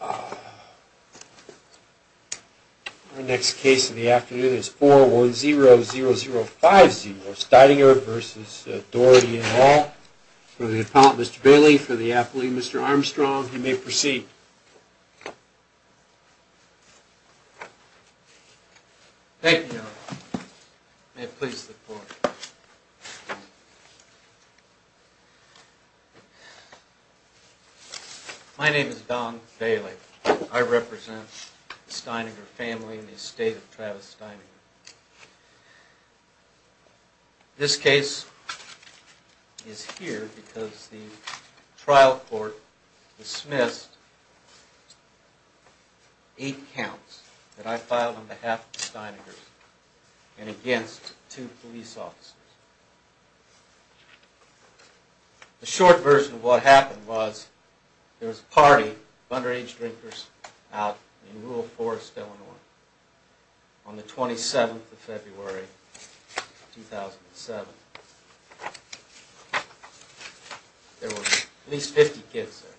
Our next case of the afternoon is 410050, Steidinger v. Daugherty & Hall, for the appellant Mr. Bailey, for the athlete Mr. Armstrong. You may proceed. Thank you, Your Honor. May it please the Court. My name is Don Bailey. I represent the Steininger family in the estate of Travis Steininger. This case is here because the trial court dismissed eight counts that I filed on behalf of the Steiningers and against two police officers. The short version of what happened was there was a party of underage drinkers out in rural Forrest, Illinois, on the 27th of February, 2007. There were at least 50 kids there.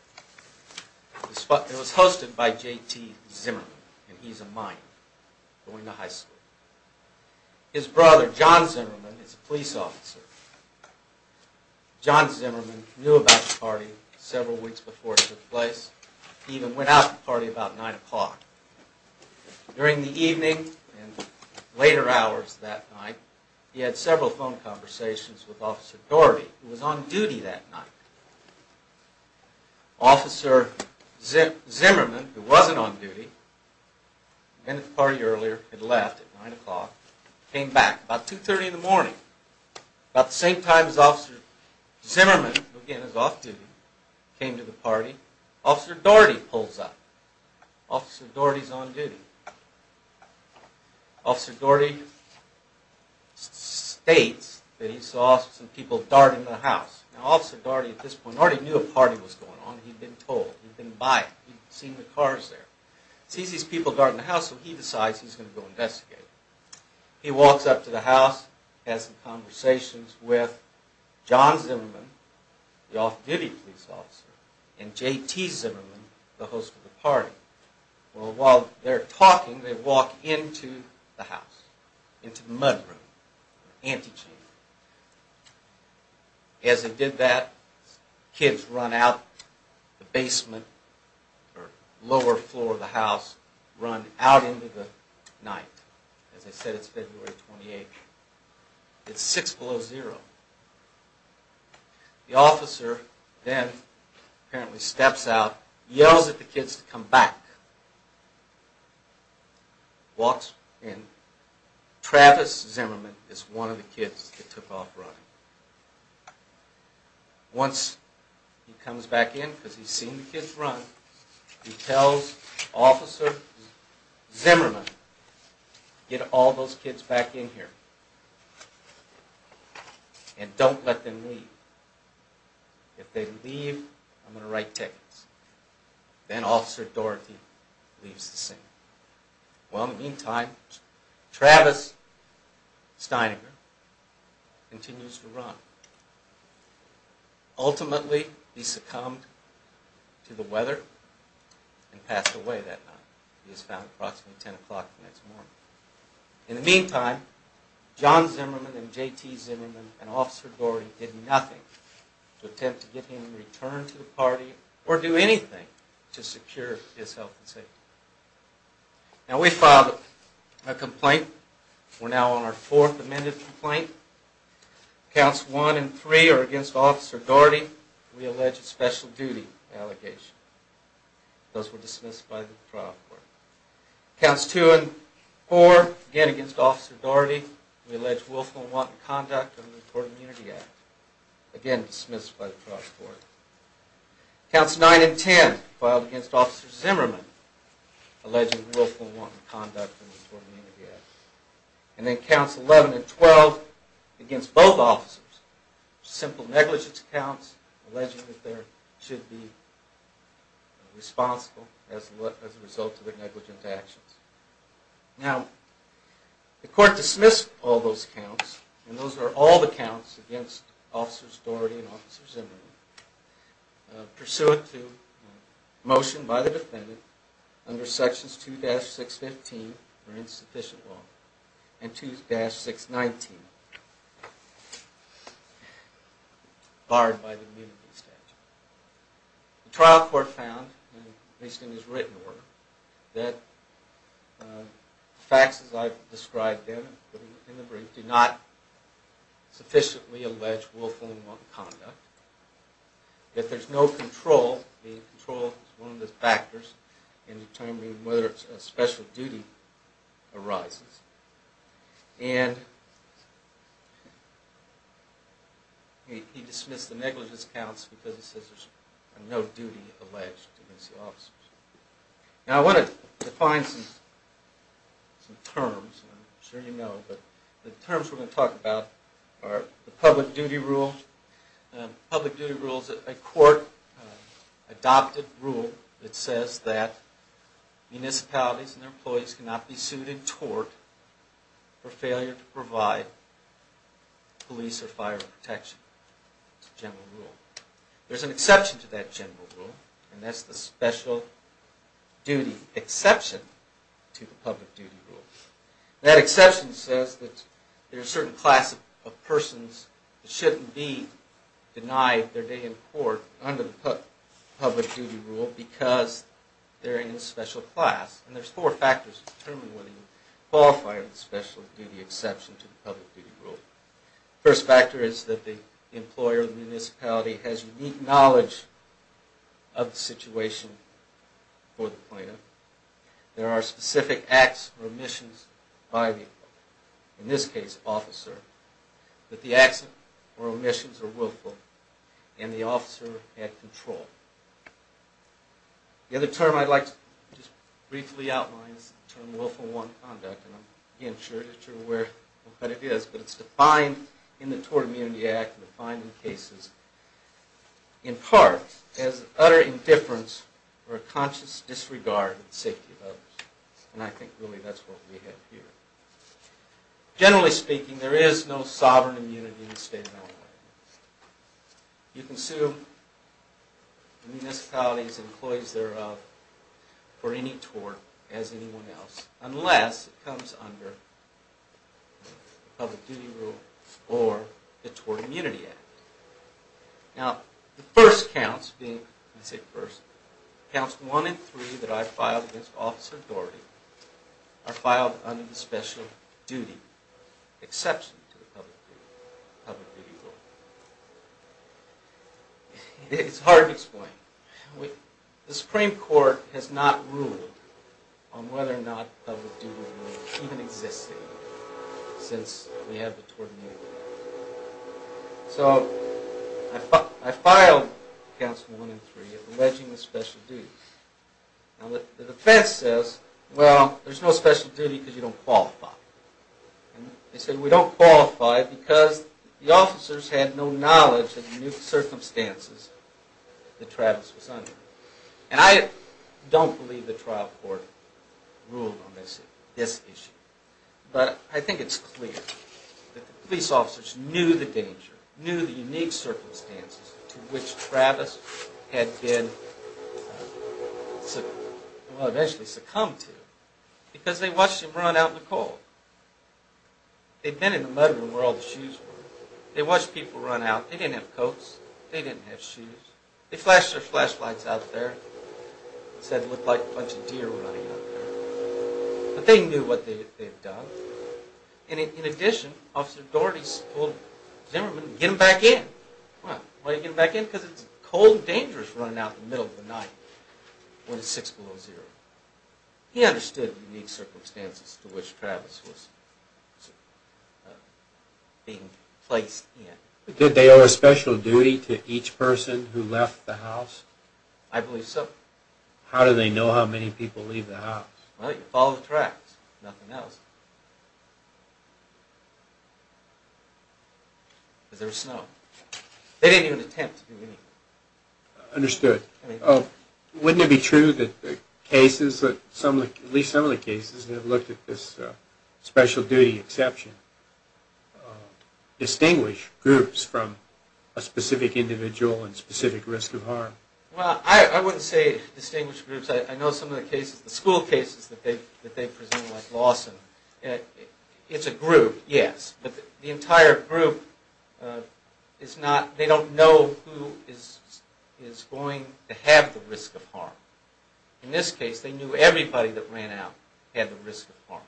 It was hosted by J.T. Zimmerman, and he's a mind, going to high school. His brother, John Zimmerman, is a police officer. John Zimmerman knew about the party several weeks before it took place. He even went out to the party about 9 o'clock. During the evening and later hours that night, he had several phone conversations with Officer Daugherty, who was on duty that night. Officer Zimmerman, who wasn't on duty, went to the party earlier, had left at 9 o'clock, came back about 2.30 in the morning. About the same time as Officer Zimmerman, who again is off duty, came to the party, Officer Daugherty pulls up. Officer Daugherty's on duty. Officer Daugherty states that he saw some people darting the house. Now Officer Daugherty at this point already knew a party was going on. He'd been told. He'd been by it. He'd seen the cars there. He sees these people darting the house, so he decides he's going to go investigate. He walks up to the house, has some conversations with John Zimmerman, the off-duty police officer, and J.T. Zimmerman, the host of the party. While they're talking, they walk into the house, into the mudroom, the antechamber. As they did that, kids run out the basement or lower floor of the house, run out into the night. As I said, it's February 28th. It's 6 below zero. The officer then apparently steps out, yells at the kids to come back. Walks in. Travis Zimmerman is one of the kids that took off running. Once he comes back in, because he's seen the kids run, he tells Officer Zimmerman to get all those kids back in here. And don't let them leave. If they leave, I'm going to write tickets. Then Officer Daugherty leaves the scene. Well, in the meantime, Travis Steininger continues to run. Ultimately, he succumbed to the weather and passed away that night. He was found approximately 10 o'clock the next morning. In the meantime, John Zimmerman and J.T. Zimmerman and Officer Daugherty did nothing to attempt to get him to return to the party or do anything to secure his health and safety. Now, we filed a complaint. We're now on our fourth amended complaint. Counts 1 and 3 are against Officer Daugherty. We allege a special duty allegation. Those were dismissed by the trial court. Counts 2 and 4, again against Officer Daugherty. We allege willful and wanton conduct under the Immunity Act. Again, dismissed by the trial court. Counts 9 and 10, filed against Officer Zimmerman, alleging willful and wanton conduct under the Immunity Act. And then Counts 11 and 12, against both officers. Simple negligence counts, alleging that they should be responsible as a result of their negligent actions. Now, the court dismissed all those counts, and those are all the counts against Officers Daugherty and Officer Zimmerman, pursuant to a motion by the defendant under Sections 2-615, or Insufficient Law, and 2-619, barred by the Immunity Statute. The trial court found, at least in his written work, that the facts as I've described them in the brief do not sufficiently allege willful and wanton conduct. That there's no control, and control is one of the factors in determining whether a special duty arises. And he dismissed the negligence counts because it says there's no duty alleged against the officers. Now, I want to define some terms. I'm sure you know, but the terms we're going to talk about are the Public Duty Rule. The Public Duty Rule is a court-adopted rule that says that municipalities and their employees cannot be sued and tort for failure to provide police or fire protection. There's an exception to that general rule, and that's the Special Duty Exception to the Public Duty Rule. That exception says that there's a certain class of persons that shouldn't be denied their day in court under the Public Duty Rule because they're in a special class. And there's four factors that determine whether you qualify under the Special Duty Exception to the Public Duty Rule. The first factor is that the employer or the municipality has unique knowledge of the situation for the plaintiff. There are specific acts or omissions by the, in this case, officer, that the acts or omissions are willful and the officer had control. The other term I'd like to just briefly outline is the term Willful Unwanted Conduct, and I'm being sure that you're aware of what that is, but it's defined in the Tort Immunity Act and defined in cases in part as utter indifference or a conscious disregard for the safety of others. And I think really that's what we have here. Generally speaking, there is no sovereign immunity in the state of Illinois. You can sue the municipalities and employees thereof for any tort as anyone else, unless it comes under the Public Duty Rule or the Tort Immunity Act. Now, the first counts being, I say first, counts one and three that I filed against Officer Dougherty are filed under the Special Duty Exception to the Public Duty Rule. It's hard to explain. The Supreme Court has not ruled on whether or not Public Duty Rule even existed since we have the Tort Immunity Act. So, I filed counts one and three alleging the special duties. Now, the defense says, well, there's no special duty because you don't qualify. And they said, we don't qualify because the officers had no knowledge of the circumstances that Travis was under. And I don't believe the trial court ruled on this issue, but I think it's clear that the police officers knew the danger, knew the unique circumstances to which Travis had been, well, eventually succumbed to because they watched him run out in the cold. They'd been in the murder room where all the shoes were. They watched people run out. They didn't have coats. They didn't have shoes. They flashed their flashlights out there and said it looked like a bunch of deer were running out there. But they knew what they had done. And in addition, Officer Dougherty told Zimmerman, get him back in. Well, why did he get him back in? Because it's cold and dangerous running out in the middle of the night when it's six below zero. He understood the unique circumstances to which Travis was being placed in. Did they owe a special duty to each person who left the house? I believe so. How do they know how many people leave the house? Well, you follow the tracks. Nothing else. Because there was snow. They didn't even attempt to do anything. Understood. Wouldn't it be true that the cases, at least some of the cases that have looked at this special duty exception, distinguish groups from a specific individual and specific risk of harm? Well, I wouldn't say distinguish groups. I know some of the cases, the school cases that they present like Lawson, it's a group, yes. But the entire group is not, they don't know who is going to have the risk of harm. In this case, they knew everybody that ran out had the risk of harm.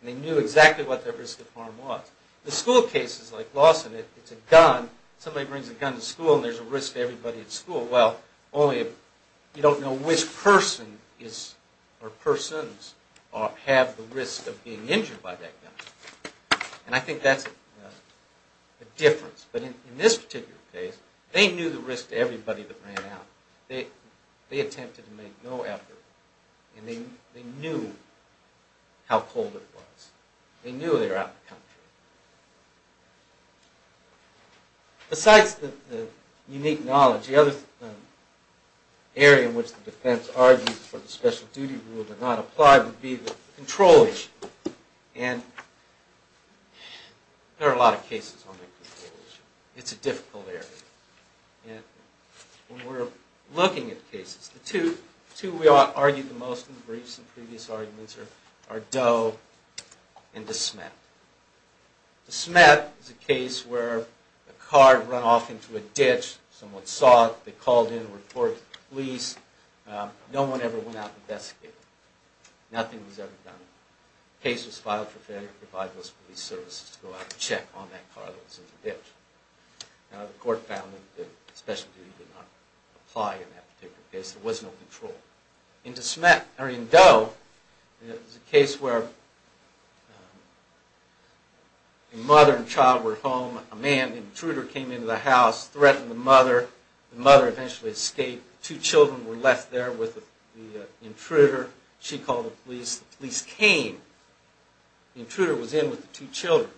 And they knew exactly what their risk of harm was. The school cases like Lawson, it's a gun, somebody brings a gun to school and there's a risk to everybody at school. Well, only if you don't know which person or persons have the risk of being injured by that gun. And I think that's a difference. But in this particular case, they knew the risk to everybody that ran out. They attempted to make no effort. And they knew how cold it was. They knew they were out of the country. Besides the unique knowledge, the other area in which the defense argues for the special duty rule to not apply would be the control issue. And there are a lot of cases on the control issue. It's a difficult area. When we're looking at cases, the two we argue the most in briefs and previous arguments are Doe and DeSmet. DeSmet is a case where a car had run off into a ditch. Someone saw it, they called in and reported it to the police. No one ever went out to investigate it. Nothing was ever done. The case was filed for failure to provide those police services to go out and check on that car that was in the ditch. The court found that the special duty did not apply in that particular case. There was no control. In Doe, it was a case where a mother and child were at home. A man, an intruder, came into the house, threatened the mother. The mother eventually escaped. Two children were left there with the intruder. She called the police. The police came. The intruder was in with the two children.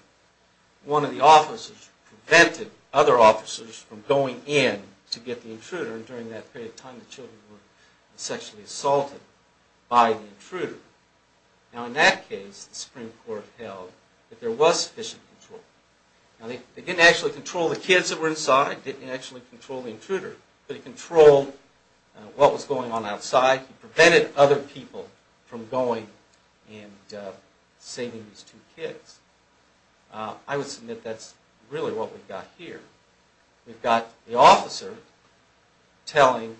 One of the officers prevented other officers from going in to get the intruder. During that period of time, the children were sexually assaulted by the intruder. In that case, the Supreme Court held that there was sufficient control. They didn't actually control the kids that were inside. They didn't actually control the intruder. They controlled what was going on outside. They prevented other people from going and saving these two kids. I would submit that's really what we've got here. We've got the officer telling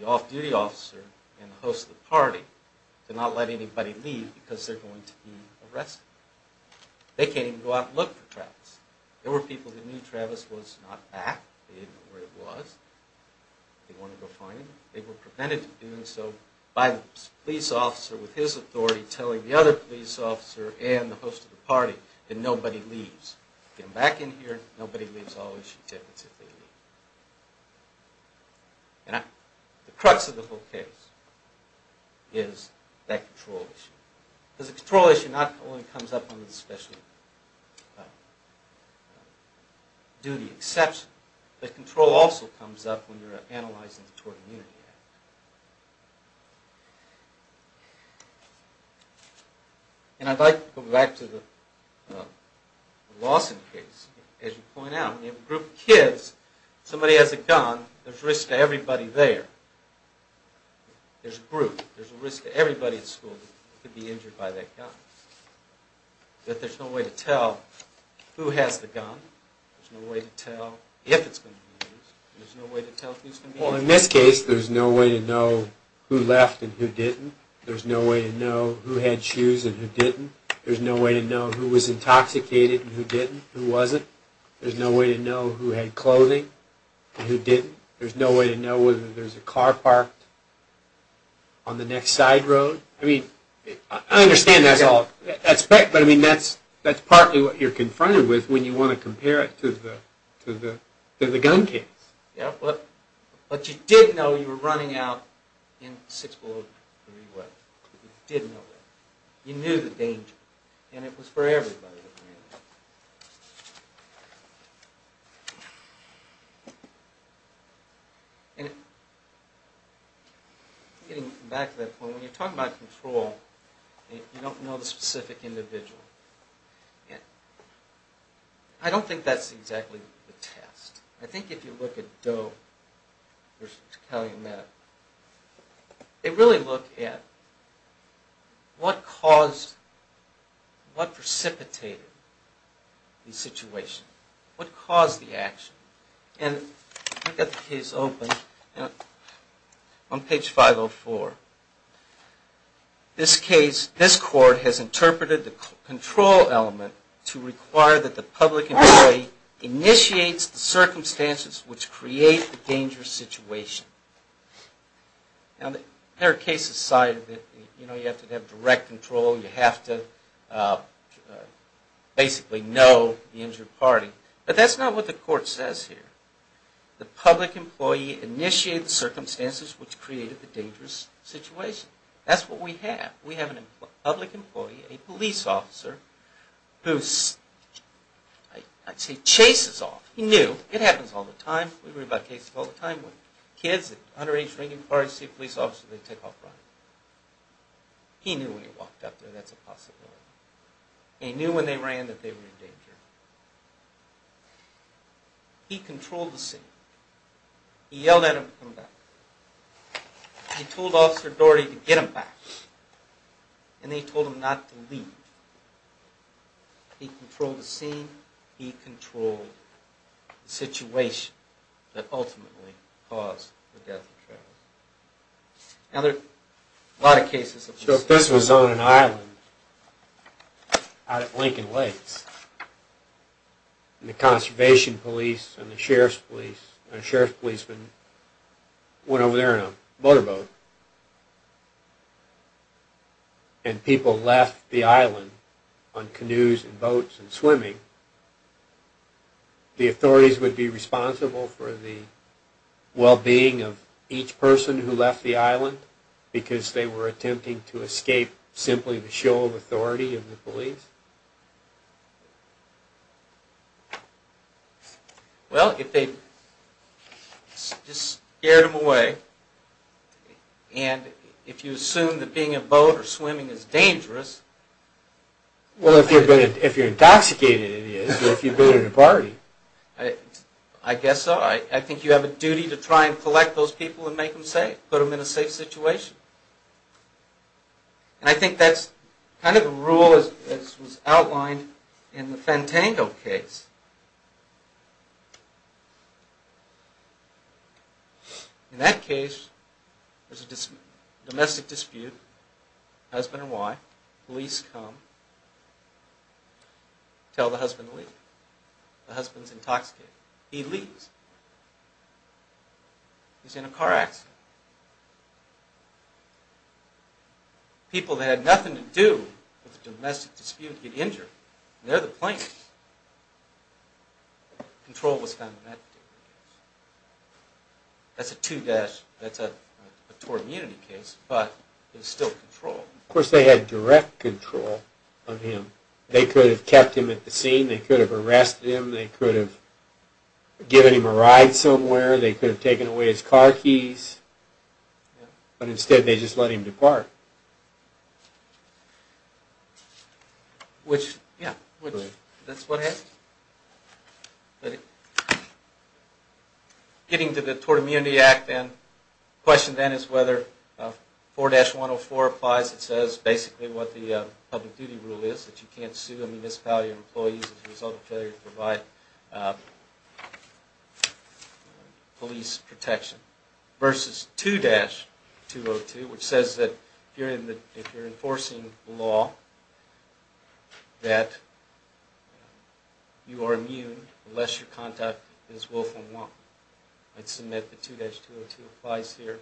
the off-duty officer and the host of the party to not let anybody leave because they're going to be arrested. They can't even go out and look for Travis. There were people who knew Travis was not back. They didn't know where he was. They didn't want to go find him. They were prevented from doing so by the police officer with his authority telling the other police officer and the host of the party that nobody leaves. If you come back in here, nobody leaves. Always, you tip until they leave. The crux of the whole case is that control issue. The control issue not only comes up on the specialty duty exception. The control also comes up when you're analyzing the Tort Immunity Act. I'd like to go back to the Lawson case. As you point out, you have a group of kids. Somebody has a gun. There's a risk to everybody there. There's a group. There's a risk to everybody at school who could be injured by that gun. There's no way to tell who has the gun. There's no way to tell if it's going to be used. There's no way to tell who's going to be injured. In this case, there's no way to know who left and who didn't. There's no way to know who had shoes and who didn't. There's no way to know who was intoxicated and who didn't, who wasn't. There's no way to know who had clothing and who didn't. There's no way to know whether there's a car parked on the next side road. I understand that's all. That's partly what you're confronted with when you want to compare it to the gun case. But you did know you were running out in six below degree weather. You did know that. You knew the danger. And it was for everybody. Getting back to that point, when you're talking about control, you don't know the specific individual. I don't think that's exactly the test. I think if you look at Doe versus Calumet, they really look at what caused, what precipitated the situation. What caused the action? And I've got the case open on page 504. This case, this court has interpreted the control element to require that the public employee initiates the circumstances which create the dangerous situation. Now, there are cases cited that you have to have direct control, you have to basically know the injured party. But that's not what the court says here. The public employee initiated the circumstances which created the dangerous situation. That's what we have. We have a public employee, a police officer, who, I'd say, chases off. He knew. It happens all the time. We read about cases all the time where kids at underage drinking parties see a police officer and they take off running. He knew when he walked up there that's a possibility. He knew when they ran that they were in danger. He controlled the scene. He yelled at him to come back. He told Officer Doherty to get him back. And they told him not to leave. He controlled the scene. He controlled the situation that ultimately caused the death and travel. Now, there are a lot of cases... So if this was on an island out at Lincoln Lakes and the conservation police and the sheriff's police, and a sheriff's policeman went over there in a motorboat, and people left the island on canoes and boats and swimming, the authorities would be responsible for the well-being of each person who left the island because they were attempting to escape simply the show of authority of the police? Well, if they just scared them away, and if you assume that being in a boat or swimming is dangerous... Well, if you're intoxicated it is, but if you've been at a party... I guess so. I think you have a duty to try and collect those people and make them safe, put them in a safe situation. And I think that's kind of the rule that was outlined in the Fentango case. In that case, there's a domestic dispute, husband and wife, police come, tell the husband to leave. The husband's intoxicated. He leaves. He's in a car accident. People that had nothing to do with the domestic dispute get injured, and they're the plaintiffs. Control was found in that case. That's a tort immunity case, but there's still control. Of course, they had direct control of him. They could have kept him at the scene, they could have arrested him, they could have given him a ride somewhere, they could have taken away his car keys, but instead they just let him depart. Which, yeah, that's what happened. Getting to the Tort Immunity Act then, the question then is whether 4-104 applies. It says basically what the public duty rule is, that you can't sue a municipality or employees as a result of failure to provide police protection. Versus 2-202, which says that if you're enforcing the law, that you are immune unless your contact is willful and wanton. I'd submit that 2-202 applies here.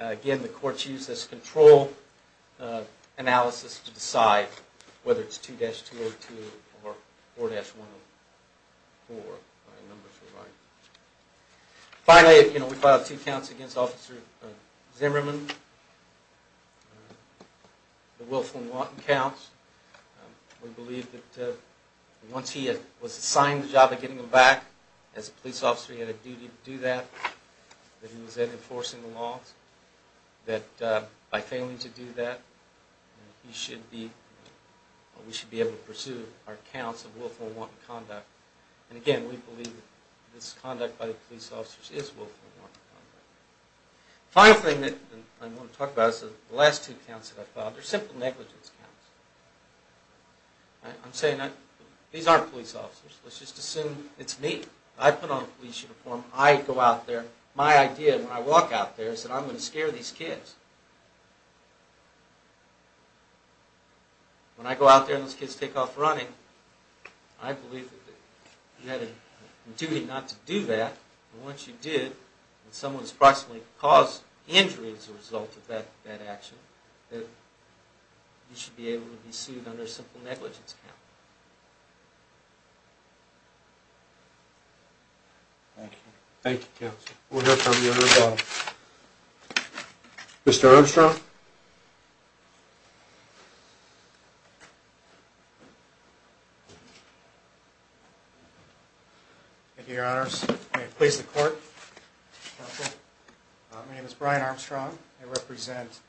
Again, the courts use this control analysis to decide whether it's 2-202 or 4-104. Finally, we filed two counts against Officer Zimmerman, the willful and wanton counts. We believe that once he was assigned the job of getting him back, as a police officer he had a duty to do that, that he was then enforcing the law, that by failing to do that, we should be able to pursue our counts of willful and wanton conduct. And again, we believe that this conduct by the police officers is willful and wanton conduct. The final thing that I want to talk about is the last two counts that I filed. They're simple negligence counts. I'm saying that these aren't police officers, let's just assume it's me. I put on police uniform, I go out there, my idea when I walk out there is that I'm going to scare these kids. When I go out there and those kids take off running, I believe that you had a duty not to do that, but once you did, and someone has approximately caused injury as a result of that action, that you should be able to be sued under a simple negligence count. Thank you, counsel. We'll hear from you in a moment. Mr. Armstrong? Thank you, your honors. May it please the court. My name is Brian Armstrong. I represent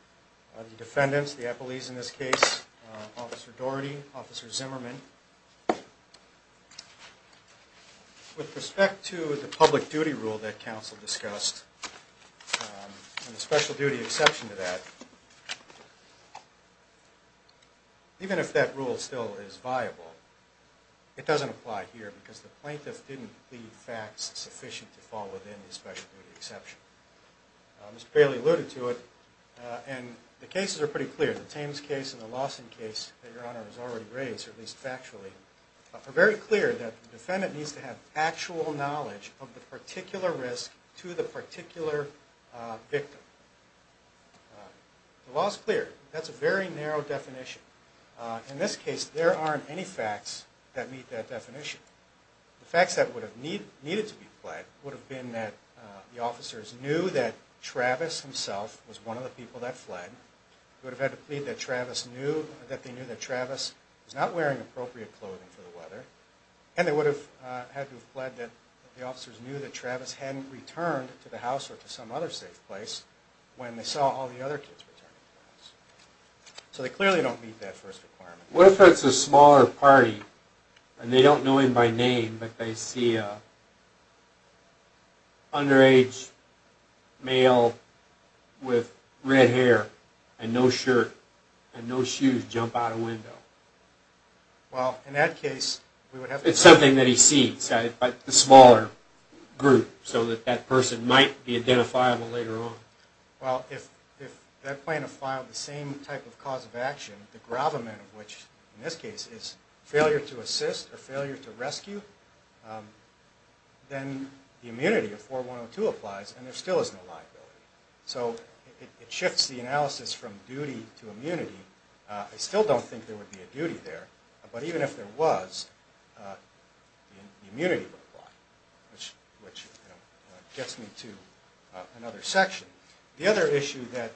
the defendants, the appellees in this case, Officer Doherty, Officer Zimmerman. With respect to the public duty rule that counsel discussed, and the special duty exception to that, even if that rule still is viable, it doesn't apply here, because the plaintiff didn't leave facts sufficient to fall within the special duty exception. Mr. Bailey alluded to it, and the cases are pretty clear. The Thames case and the Lawson case that your honor has already raised, at least factually, are very clear that the defendant needs to have actual knowledge of the particular risk to the particular victim. The law is clear. That's a very narrow definition. In this case, there aren't any facts that meet that definition. The facts that would have needed to be fled would have been that the officers knew that Travis himself was one of the people that fled. They would have had to plead that Travis knew, that they knew that Travis was not wearing appropriate clothing for the weather. And they would have had to have pled that the officers knew that Travis hadn't returned to the house or to some other safe place when they saw all the other kids returning to the house. So they clearly don't meet that first requirement. What if it's a smaller party, and they don't know him by name, but they see an underage male with red hair and no shirt and no shoes jump out a window? Well, in that case... It's something that he sees, but a smaller group, so that person might be identifiable later on. Well, if that plaintiff filed the same type of cause of action, the gravamen of which, in this case, is failure to assist or failure to rescue, then the immunity of 4102 applies, and there still is no liability. So it shifts the analysis from duty to immunity. I still don't think there would be a duty there, but even if there was, the immunity would apply. Which gets me to another section. The other issue that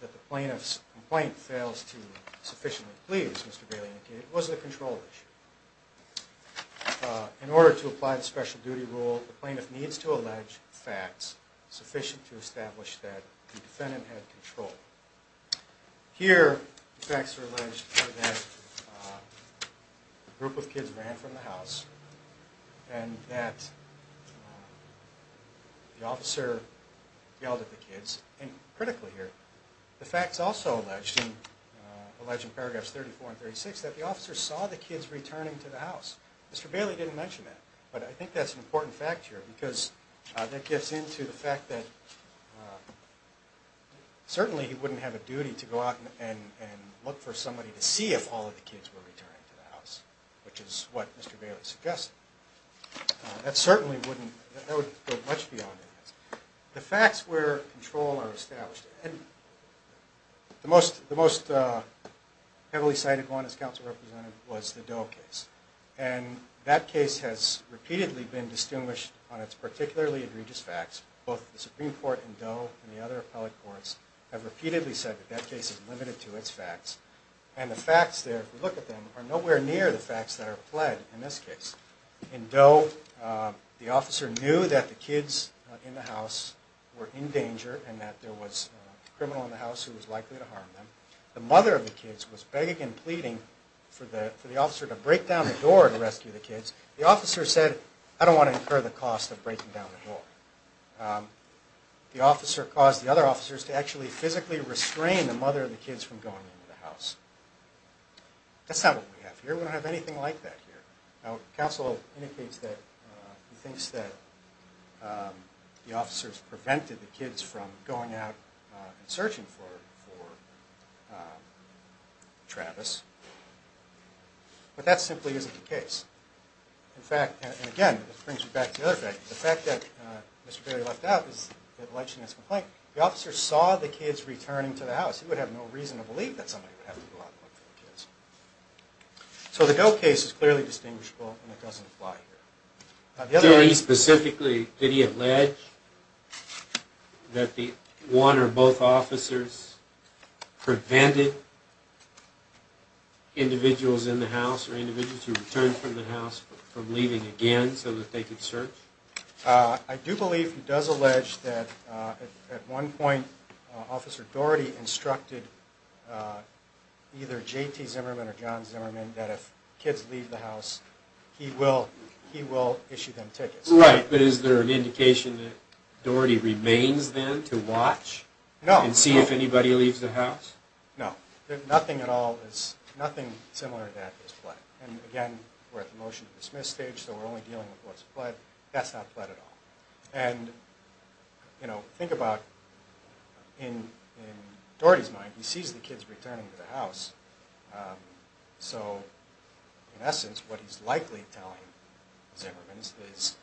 the plaintiff's complaint fails to sufficiently please Mr. Bailey was the control issue. In order to apply the special duty rule, the plaintiff needs to allege facts sufficient to establish that the defendant had control. Here, the facts are alleged that a group of kids ran from the house, and that the officer yelled at the kids. And critically here, the facts also allege in paragraphs 34 and 36 that the officer saw the kids returning to the house. Mr. Bailey didn't mention that, but I think that's an important fact here, because that gets into the fact that certainly he wouldn't have a duty to go out and look for somebody to see if all of the kids were returning to the house, which is what Mr. Bailey suggested. That certainly wouldn't, that would go much beyond that. The facts where control are established. The most heavily cited one, as counsel represented, was the Doe case. And that case has repeatedly been distinguished on its particularly egregious facts. Both the Supreme Court and Doe and the other appellate courts have repeatedly said that that case is limited to its facts. And the facts there, if you look at them, are nowhere near the facts that are pled in this case. In Doe, the officer knew that the kids in the house were in danger, and that there was a criminal in the house who was likely to harm them. The mother of the kids was begging and pleading for the officer to break down the door to rescue the kids. The officer said, I don't want to incur the cost of breaking down the door. The officer caused the other officers to actually physically restrain the mother of the kids from going into the house. That's not what we have here. We don't have anything like that here. Now, counsel indicates that he thinks that the officers prevented the kids from going out and searching for Travis. In fact, and again, this brings me back to the other fact, the fact that Mr. Berry left out in his complaint, the officer saw the kids returning to the house. He would have no reason to believe that somebody would have to go out and look for the kids. So the Doe case is clearly distinguishable, and it doesn't apply here. Very specifically, did he allege that one or both officers prevented individuals in the house, or individuals who returned from the house, from leaving again so that they could search? I do believe he does allege that at one point, Officer Dougherty instructed either J.T. Zimmerman or John Zimmerman that if kids leave the house, he will issue them tickets. Right, but is there an indication that Dougherty remains then to watch and see if anybody leaves the house? No. Nothing similar to that is pled. And again, we're at the motion to dismiss stage, so we're only dealing with what's pled. That's not pled at all. And think about, in Dougherty's mind, he sees the kids returning to the house. So in essence, what he's likely telling Zimmerman is,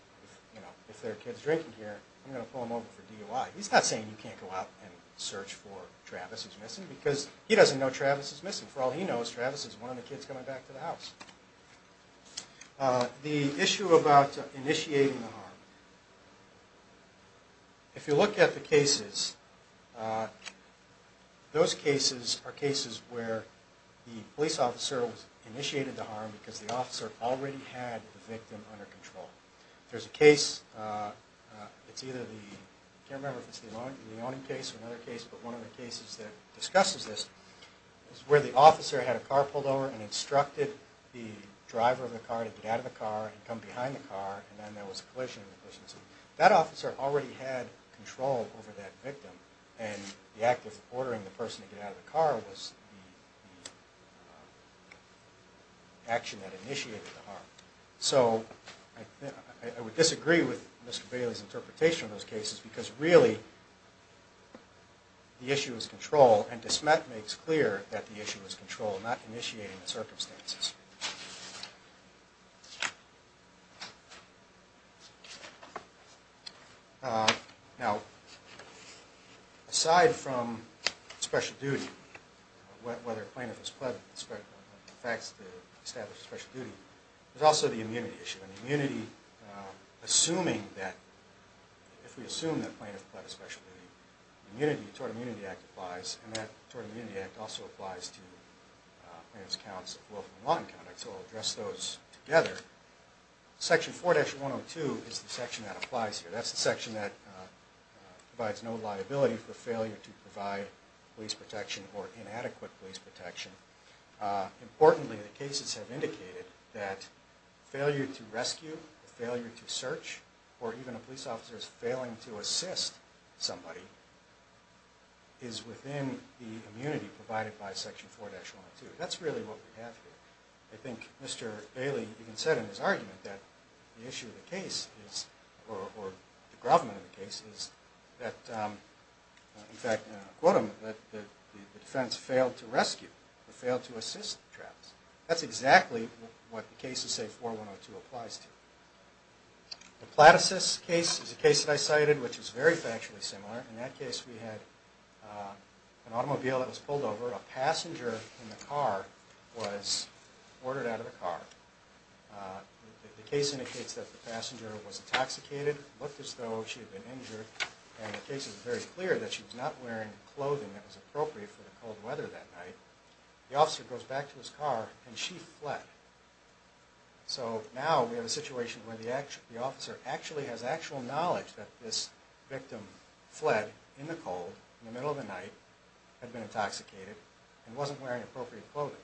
if there are kids drinking here, I'm going to pull them over for DUI. He's not saying you can't go out and search for Travis who's missing, because he doesn't know Travis is missing. For all he knows, Travis is one of the kids coming back to the house. The issue about initiating the harm. If you look at the cases, those cases are cases where the police officer initiated the harm because the officer already had the victim under control. There's a case, I can't remember if it's the owning case or another case, but one of the cases that discusses this, is where the officer had a car pulled over and instructed the driver of the car to get out of the car, and come behind the car, and then there was a collision. That officer already had control over that victim, and the act of ordering the person to get out of the car was the action that initiated the harm. So I would disagree with Mr. Bailey's interpretation of those cases, because really the issue is control, and DeSmet makes clear that the issue is control, not initiating the circumstances. Now, aside from special duty, whether a plaintiff is pledged to establish a special duty, there's also the immunity issue. And the immunity, assuming that, if we assume that a plaintiff pledged a special duty, the Immunity, the Tort Immunity Act applies, and that Tort Immunity Act also applies to plaintiff's counts of willful and wanton conduct. So I'll address those together. Section 4-102 is the section that applies here. That's the section that provides no liability for failure to provide police protection or inadequate police protection. Importantly, the cases have indicated that failure to rescue, failure to search, or even a police officer failing to assist somebody, is within the immunity provided by Section 4-102. That's really what we have here. And I think Mr. Bailey even said in his argument that the issue of the case is, or the government of the case is, that, in fact, I'll quote him, that the defense failed to rescue, or failed to assist the traffickers. That's exactly what the case of, say, 4-102 applies to. The Platasys case is a case that I cited, which is very factually similar. In that case, we had an automobile that was pulled over. A passenger in the car was ordered out of the car. The case indicates that the passenger was intoxicated, looked as though she had been injured, and the case is very clear that she was not wearing clothing that was appropriate for the cold weather that night. The officer goes back to his car, and she fled. So now we have a situation where the officer actually has actual knowledge that this victim fled in the cold, in the middle of the night, had been intoxicated, and wasn't wearing appropriate clothing.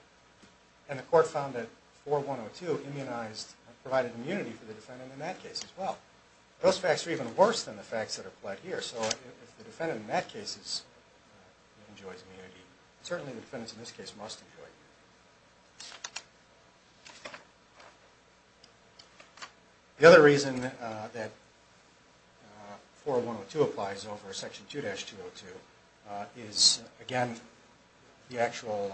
And the court found that 4-102 immunized, provided immunity for the defendant in that case as well. Those facts are even worse than the facts that are fled here. So if the defendant in that case enjoys immunity, certainly the defendants in this case must enjoy it. The other reason that 4-102 applies over Section 2-202 is, again, the actual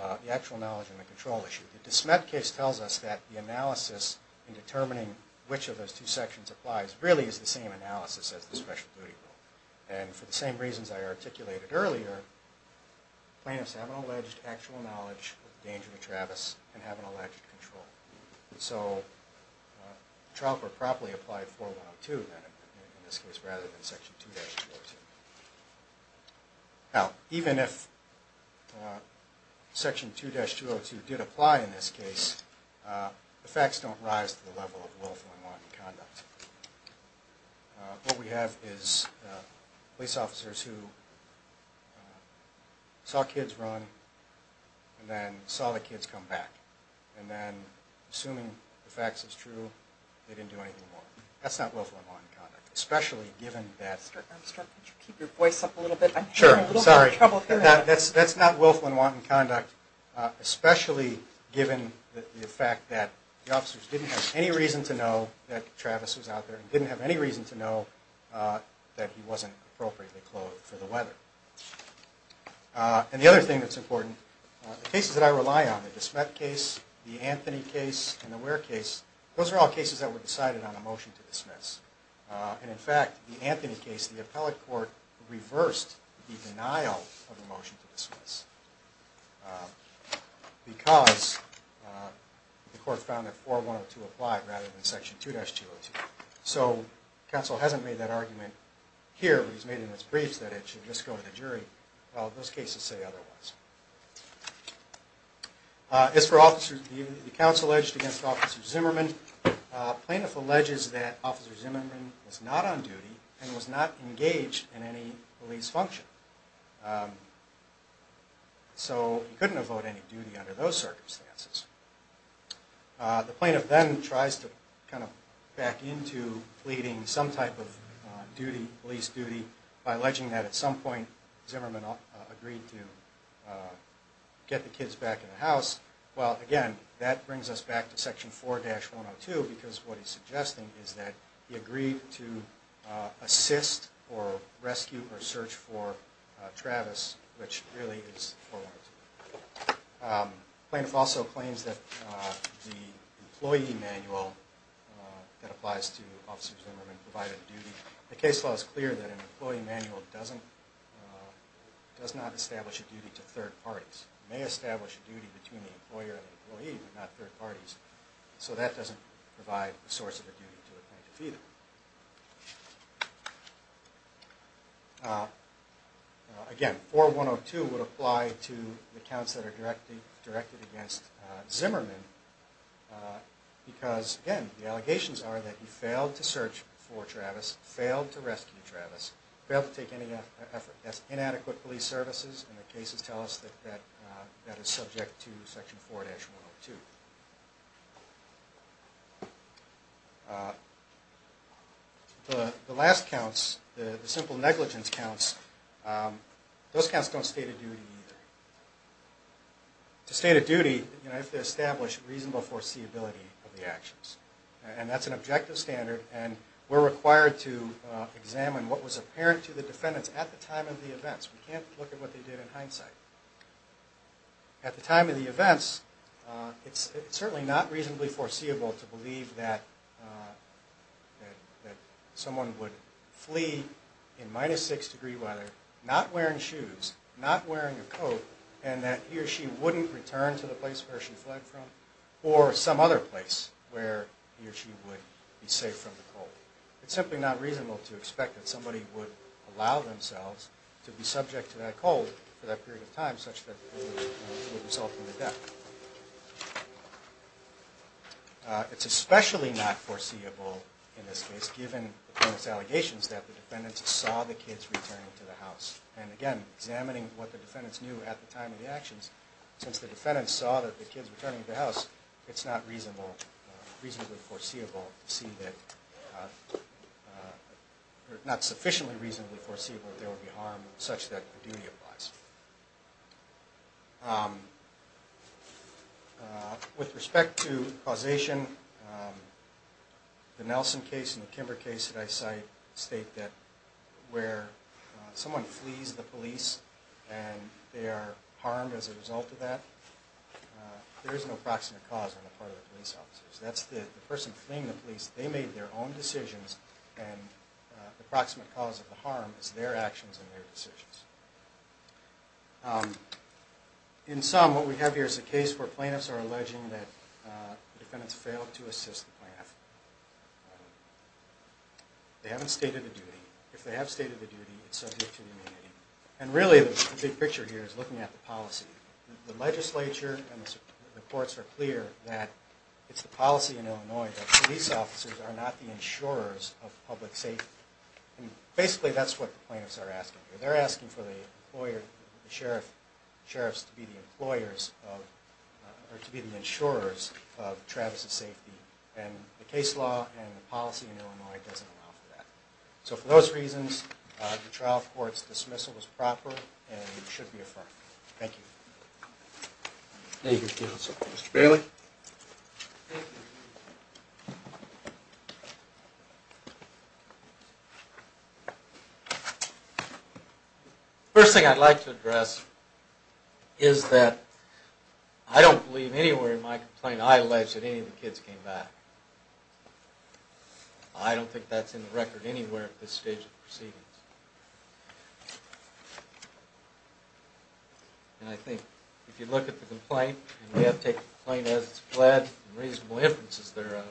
knowledge and the control issue. The DeSmet case tells us that the analysis in determining which of those two sections applies really is the same analysis as the Special Duty rule. And for the same reasons I articulated earlier, plaintiffs have an alleged actual knowledge of the danger to Travis, and have an alleged control. So the trial court probably applied 4-102 in this case rather than Section 2-202. Now, even if Section 2-202 did apply in this case, the facts don't rise to the level of willful unwanted conduct. What we have is police officers who saw kids run, and then saw the kids come back. And then, assuming the facts is true, they didn't do anything more. That's not willful unwanted conduct. Especially given that... Could you keep your voice up a little bit? Sure, sorry. That's not willful unwanted conduct. Especially given the fact that the officers didn't have any reason to know that Travis was out there, and didn't have any reason to know that he wasn't appropriately clothed for the weather. And the other thing that's important, the cases that I rely on, the DeSmet case, the Anthony case, and the Ware case, those are all cases that were decided on a motion to dismiss. And in fact, the Anthony case, the appellate court reversed the denial of a motion to dismiss. Because the court found that 4102 applied, rather than section 2-202. So, counsel hasn't made that argument here. He's made it in his briefs that it should just go to the jury. Well, those cases say otherwise. As for officers, the counsel alleged against Officer Zimmerman, plaintiff alleges that Officer Zimmerman was not on duty, and was not engaged in any police function. So, he couldn't have owed any duty under those circumstances. The plaintiff then tries to kind of back into pleading some type of duty, police duty, by alleging that at some point, Zimmerman agreed to get the kids back in the house. Well, again, that brings us back to section 4-102, because what he's suggesting is that he agreed to assist, or rescue, or search for Travis, which really is 4102. Plaintiff also claims that the employee manual that applies to Officer Zimmerman provided a duty. The case law is clear that an employee manual does not establish a duty to third parties. It may establish a duty between the employer and the employee, but not third parties. So, that doesn't provide a source of a duty to a plaintiff either. Again, 4102 would apply to the counts that are directed against Zimmerman, because, again, the allegations are that he failed to search for Travis, failed to rescue Travis, failed to take any inadequate police services, and the cases tell us that that is subject to section 4-102. The last counts, the simple negligence counts, those counts don't state a duty either. To state a duty, you have to establish reasonable foreseeability of the actions. And that's an objective standard, and we're required to examine what was apparent to the defendants at the time of the events. We can't look at what they did in hindsight. At the time of the events, it's certainly not reasonably foreseeable to believe that someone would flee in minus 6 degree weather, not wearing shoes, not wearing a coat, and that he or she wouldn't return to the place where she fled from, or some other place where he or she would be safe from the cold. It's simply not reasonable to expect that somebody would allow themselves to be subject to that cold for that period of time, such that it would result in their death. It's especially not foreseeable in this case, given the defendant's allegations that the defendants saw the kids returning to the house. And again, examining what the defendants knew at the time of the actions, since the defendants saw that the kids were returning to the house, it's not reasonably foreseeable to see that, or not sufficiently reasonably foreseeable that they would be harmed, such that the duty applies. With respect to causation, the Nelson case and the Kimber case that I cite, state that where someone flees the police and they are harmed as a result of that, there is no proximate cause on the part of the police officers. That's the person fleeing the police, they made their own decisions, and the proximate cause of the harm is their actions and their decisions. In sum, what we have here is a case where plaintiffs are alleging that the defendants failed to assist the plaintiff. They haven't stated a duty. If they have stated a duty, it's subject to the immunity. And really, the big picture here is looking at the policy. The legislature and the courts are clear that it's the policy in Illinois that police officers are not the insurers of public safety. Basically, that's what the plaintiffs are asking for. They're asking for the sheriff's to be the insurers of Travis' safety. And the case law and the policy in Illinois doesn't allow for that. So for those reasons, the trial court's dismissal is proper and should be affirmed. Thank you. Thank you, counsel. Mr. Bailey? First thing I'd like to address is that I don't believe anywhere in my complaint I alleged that any of the kids came back. I don't think that's in the record anywhere at this stage of the proceedings. And I think if you look at the complaint, and we have taken the complaint as it's fled, and reasonable inferences thereof,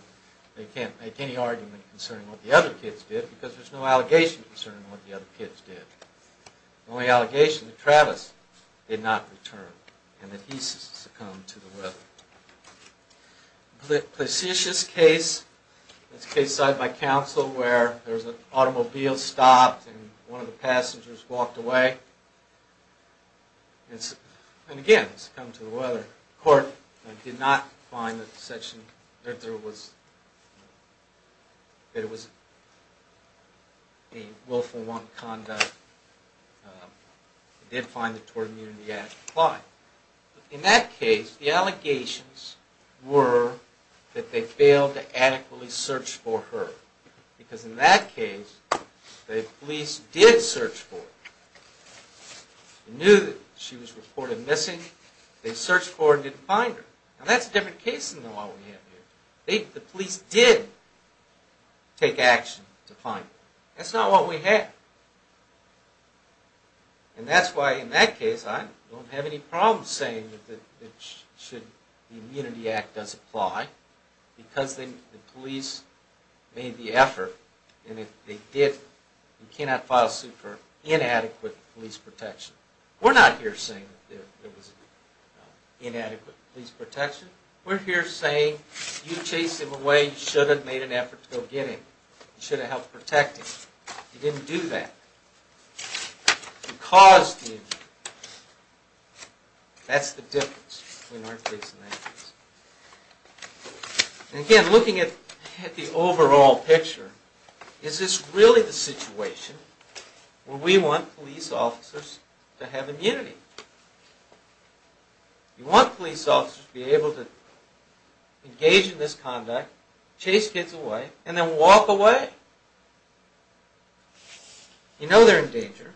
they can't make any argument concerning what the other kids did because there's no allegation concerning what the other kids did. The only allegation is that Travis did not return, and that he succumbed to the weather. The Placetius case is a case cited by counsel where there was an automobile stopped, and one of the passengers walked away. And again, succumbed to the weather. The court did not find that there was any willful wrong conduct. It did find that tortimony in the act applied. In that case, the allegations were that they failed to adequately search for her. Because in that case, the police did search for her. They knew that she was reported missing. They searched for her and didn't find her. Now that's a different case than the one we have here. The police did take action to find her. That's not what we have. And that's why in that case, I don't have any problem saying that the Immunity Act does apply because the police made the effort. And they did. You cannot file a suit for inadequate police protection. We're not here saying there was inadequate police protection. We're here saying you chased him away. You should have made an effort to go get him. You should have helped protect him. You didn't do that. You caused the injury. That's the difference between our case and that case. And again, looking at the overall picture, is this really the situation where we want police officers to have immunity? You want police officers to be able to engage in this conduct, chase kids away, and then walk away? You know they're in danger.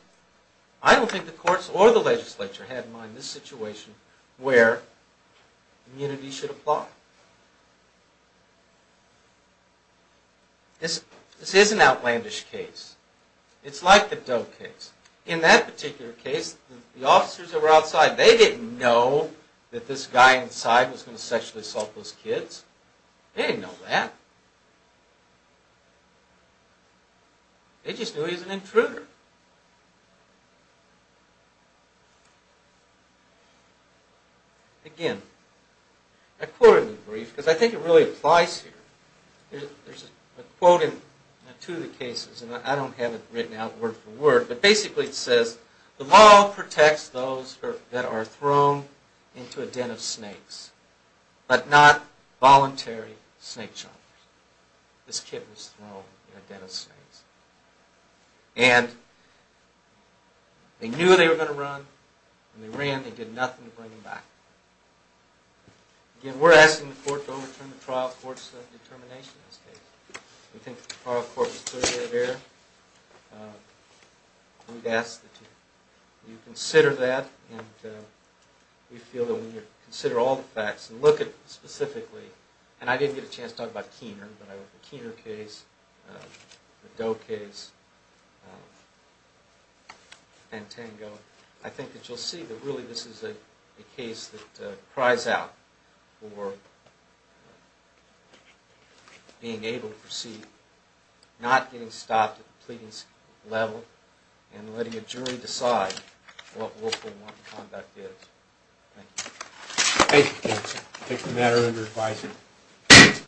I don't think the courts or the legislature had in mind this situation where immunity should apply. This is an outlandish case. It's like the Doe case. In that particular case, the officers that were outside, they didn't know that this guy inside was going to sexually assault those kids. They didn't know that. They just knew he was an intruder. Again, I quote in the brief, because I think it really applies here. There's a quote in two of the cases, and I don't have it written out word for word, but basically it says, the law protects those that are thrown into a den of snakes, but not voluntary snake chargers. This kid was thrown in a den of snakes. And they knew they were going to run, and they ran, and they did nothing to bring him back. Again, we're asking the court to overturn the trial court's determination in this case. We think the trial court was clearly of error. We'd ask that you consider that, and we feel that when you consider all the facts and look at it specifically, and I didn't get a chance to talk about Keener, but I wrote the Keener case, the Doe case, and Tango, I think that you'll see that really this is a case that cries out for being able to proceed, not getting stopped at the pleading level, and letting a jury decide what willful wrong conduct is. Thank you. Thank you, counsel. I take the matter under advisory.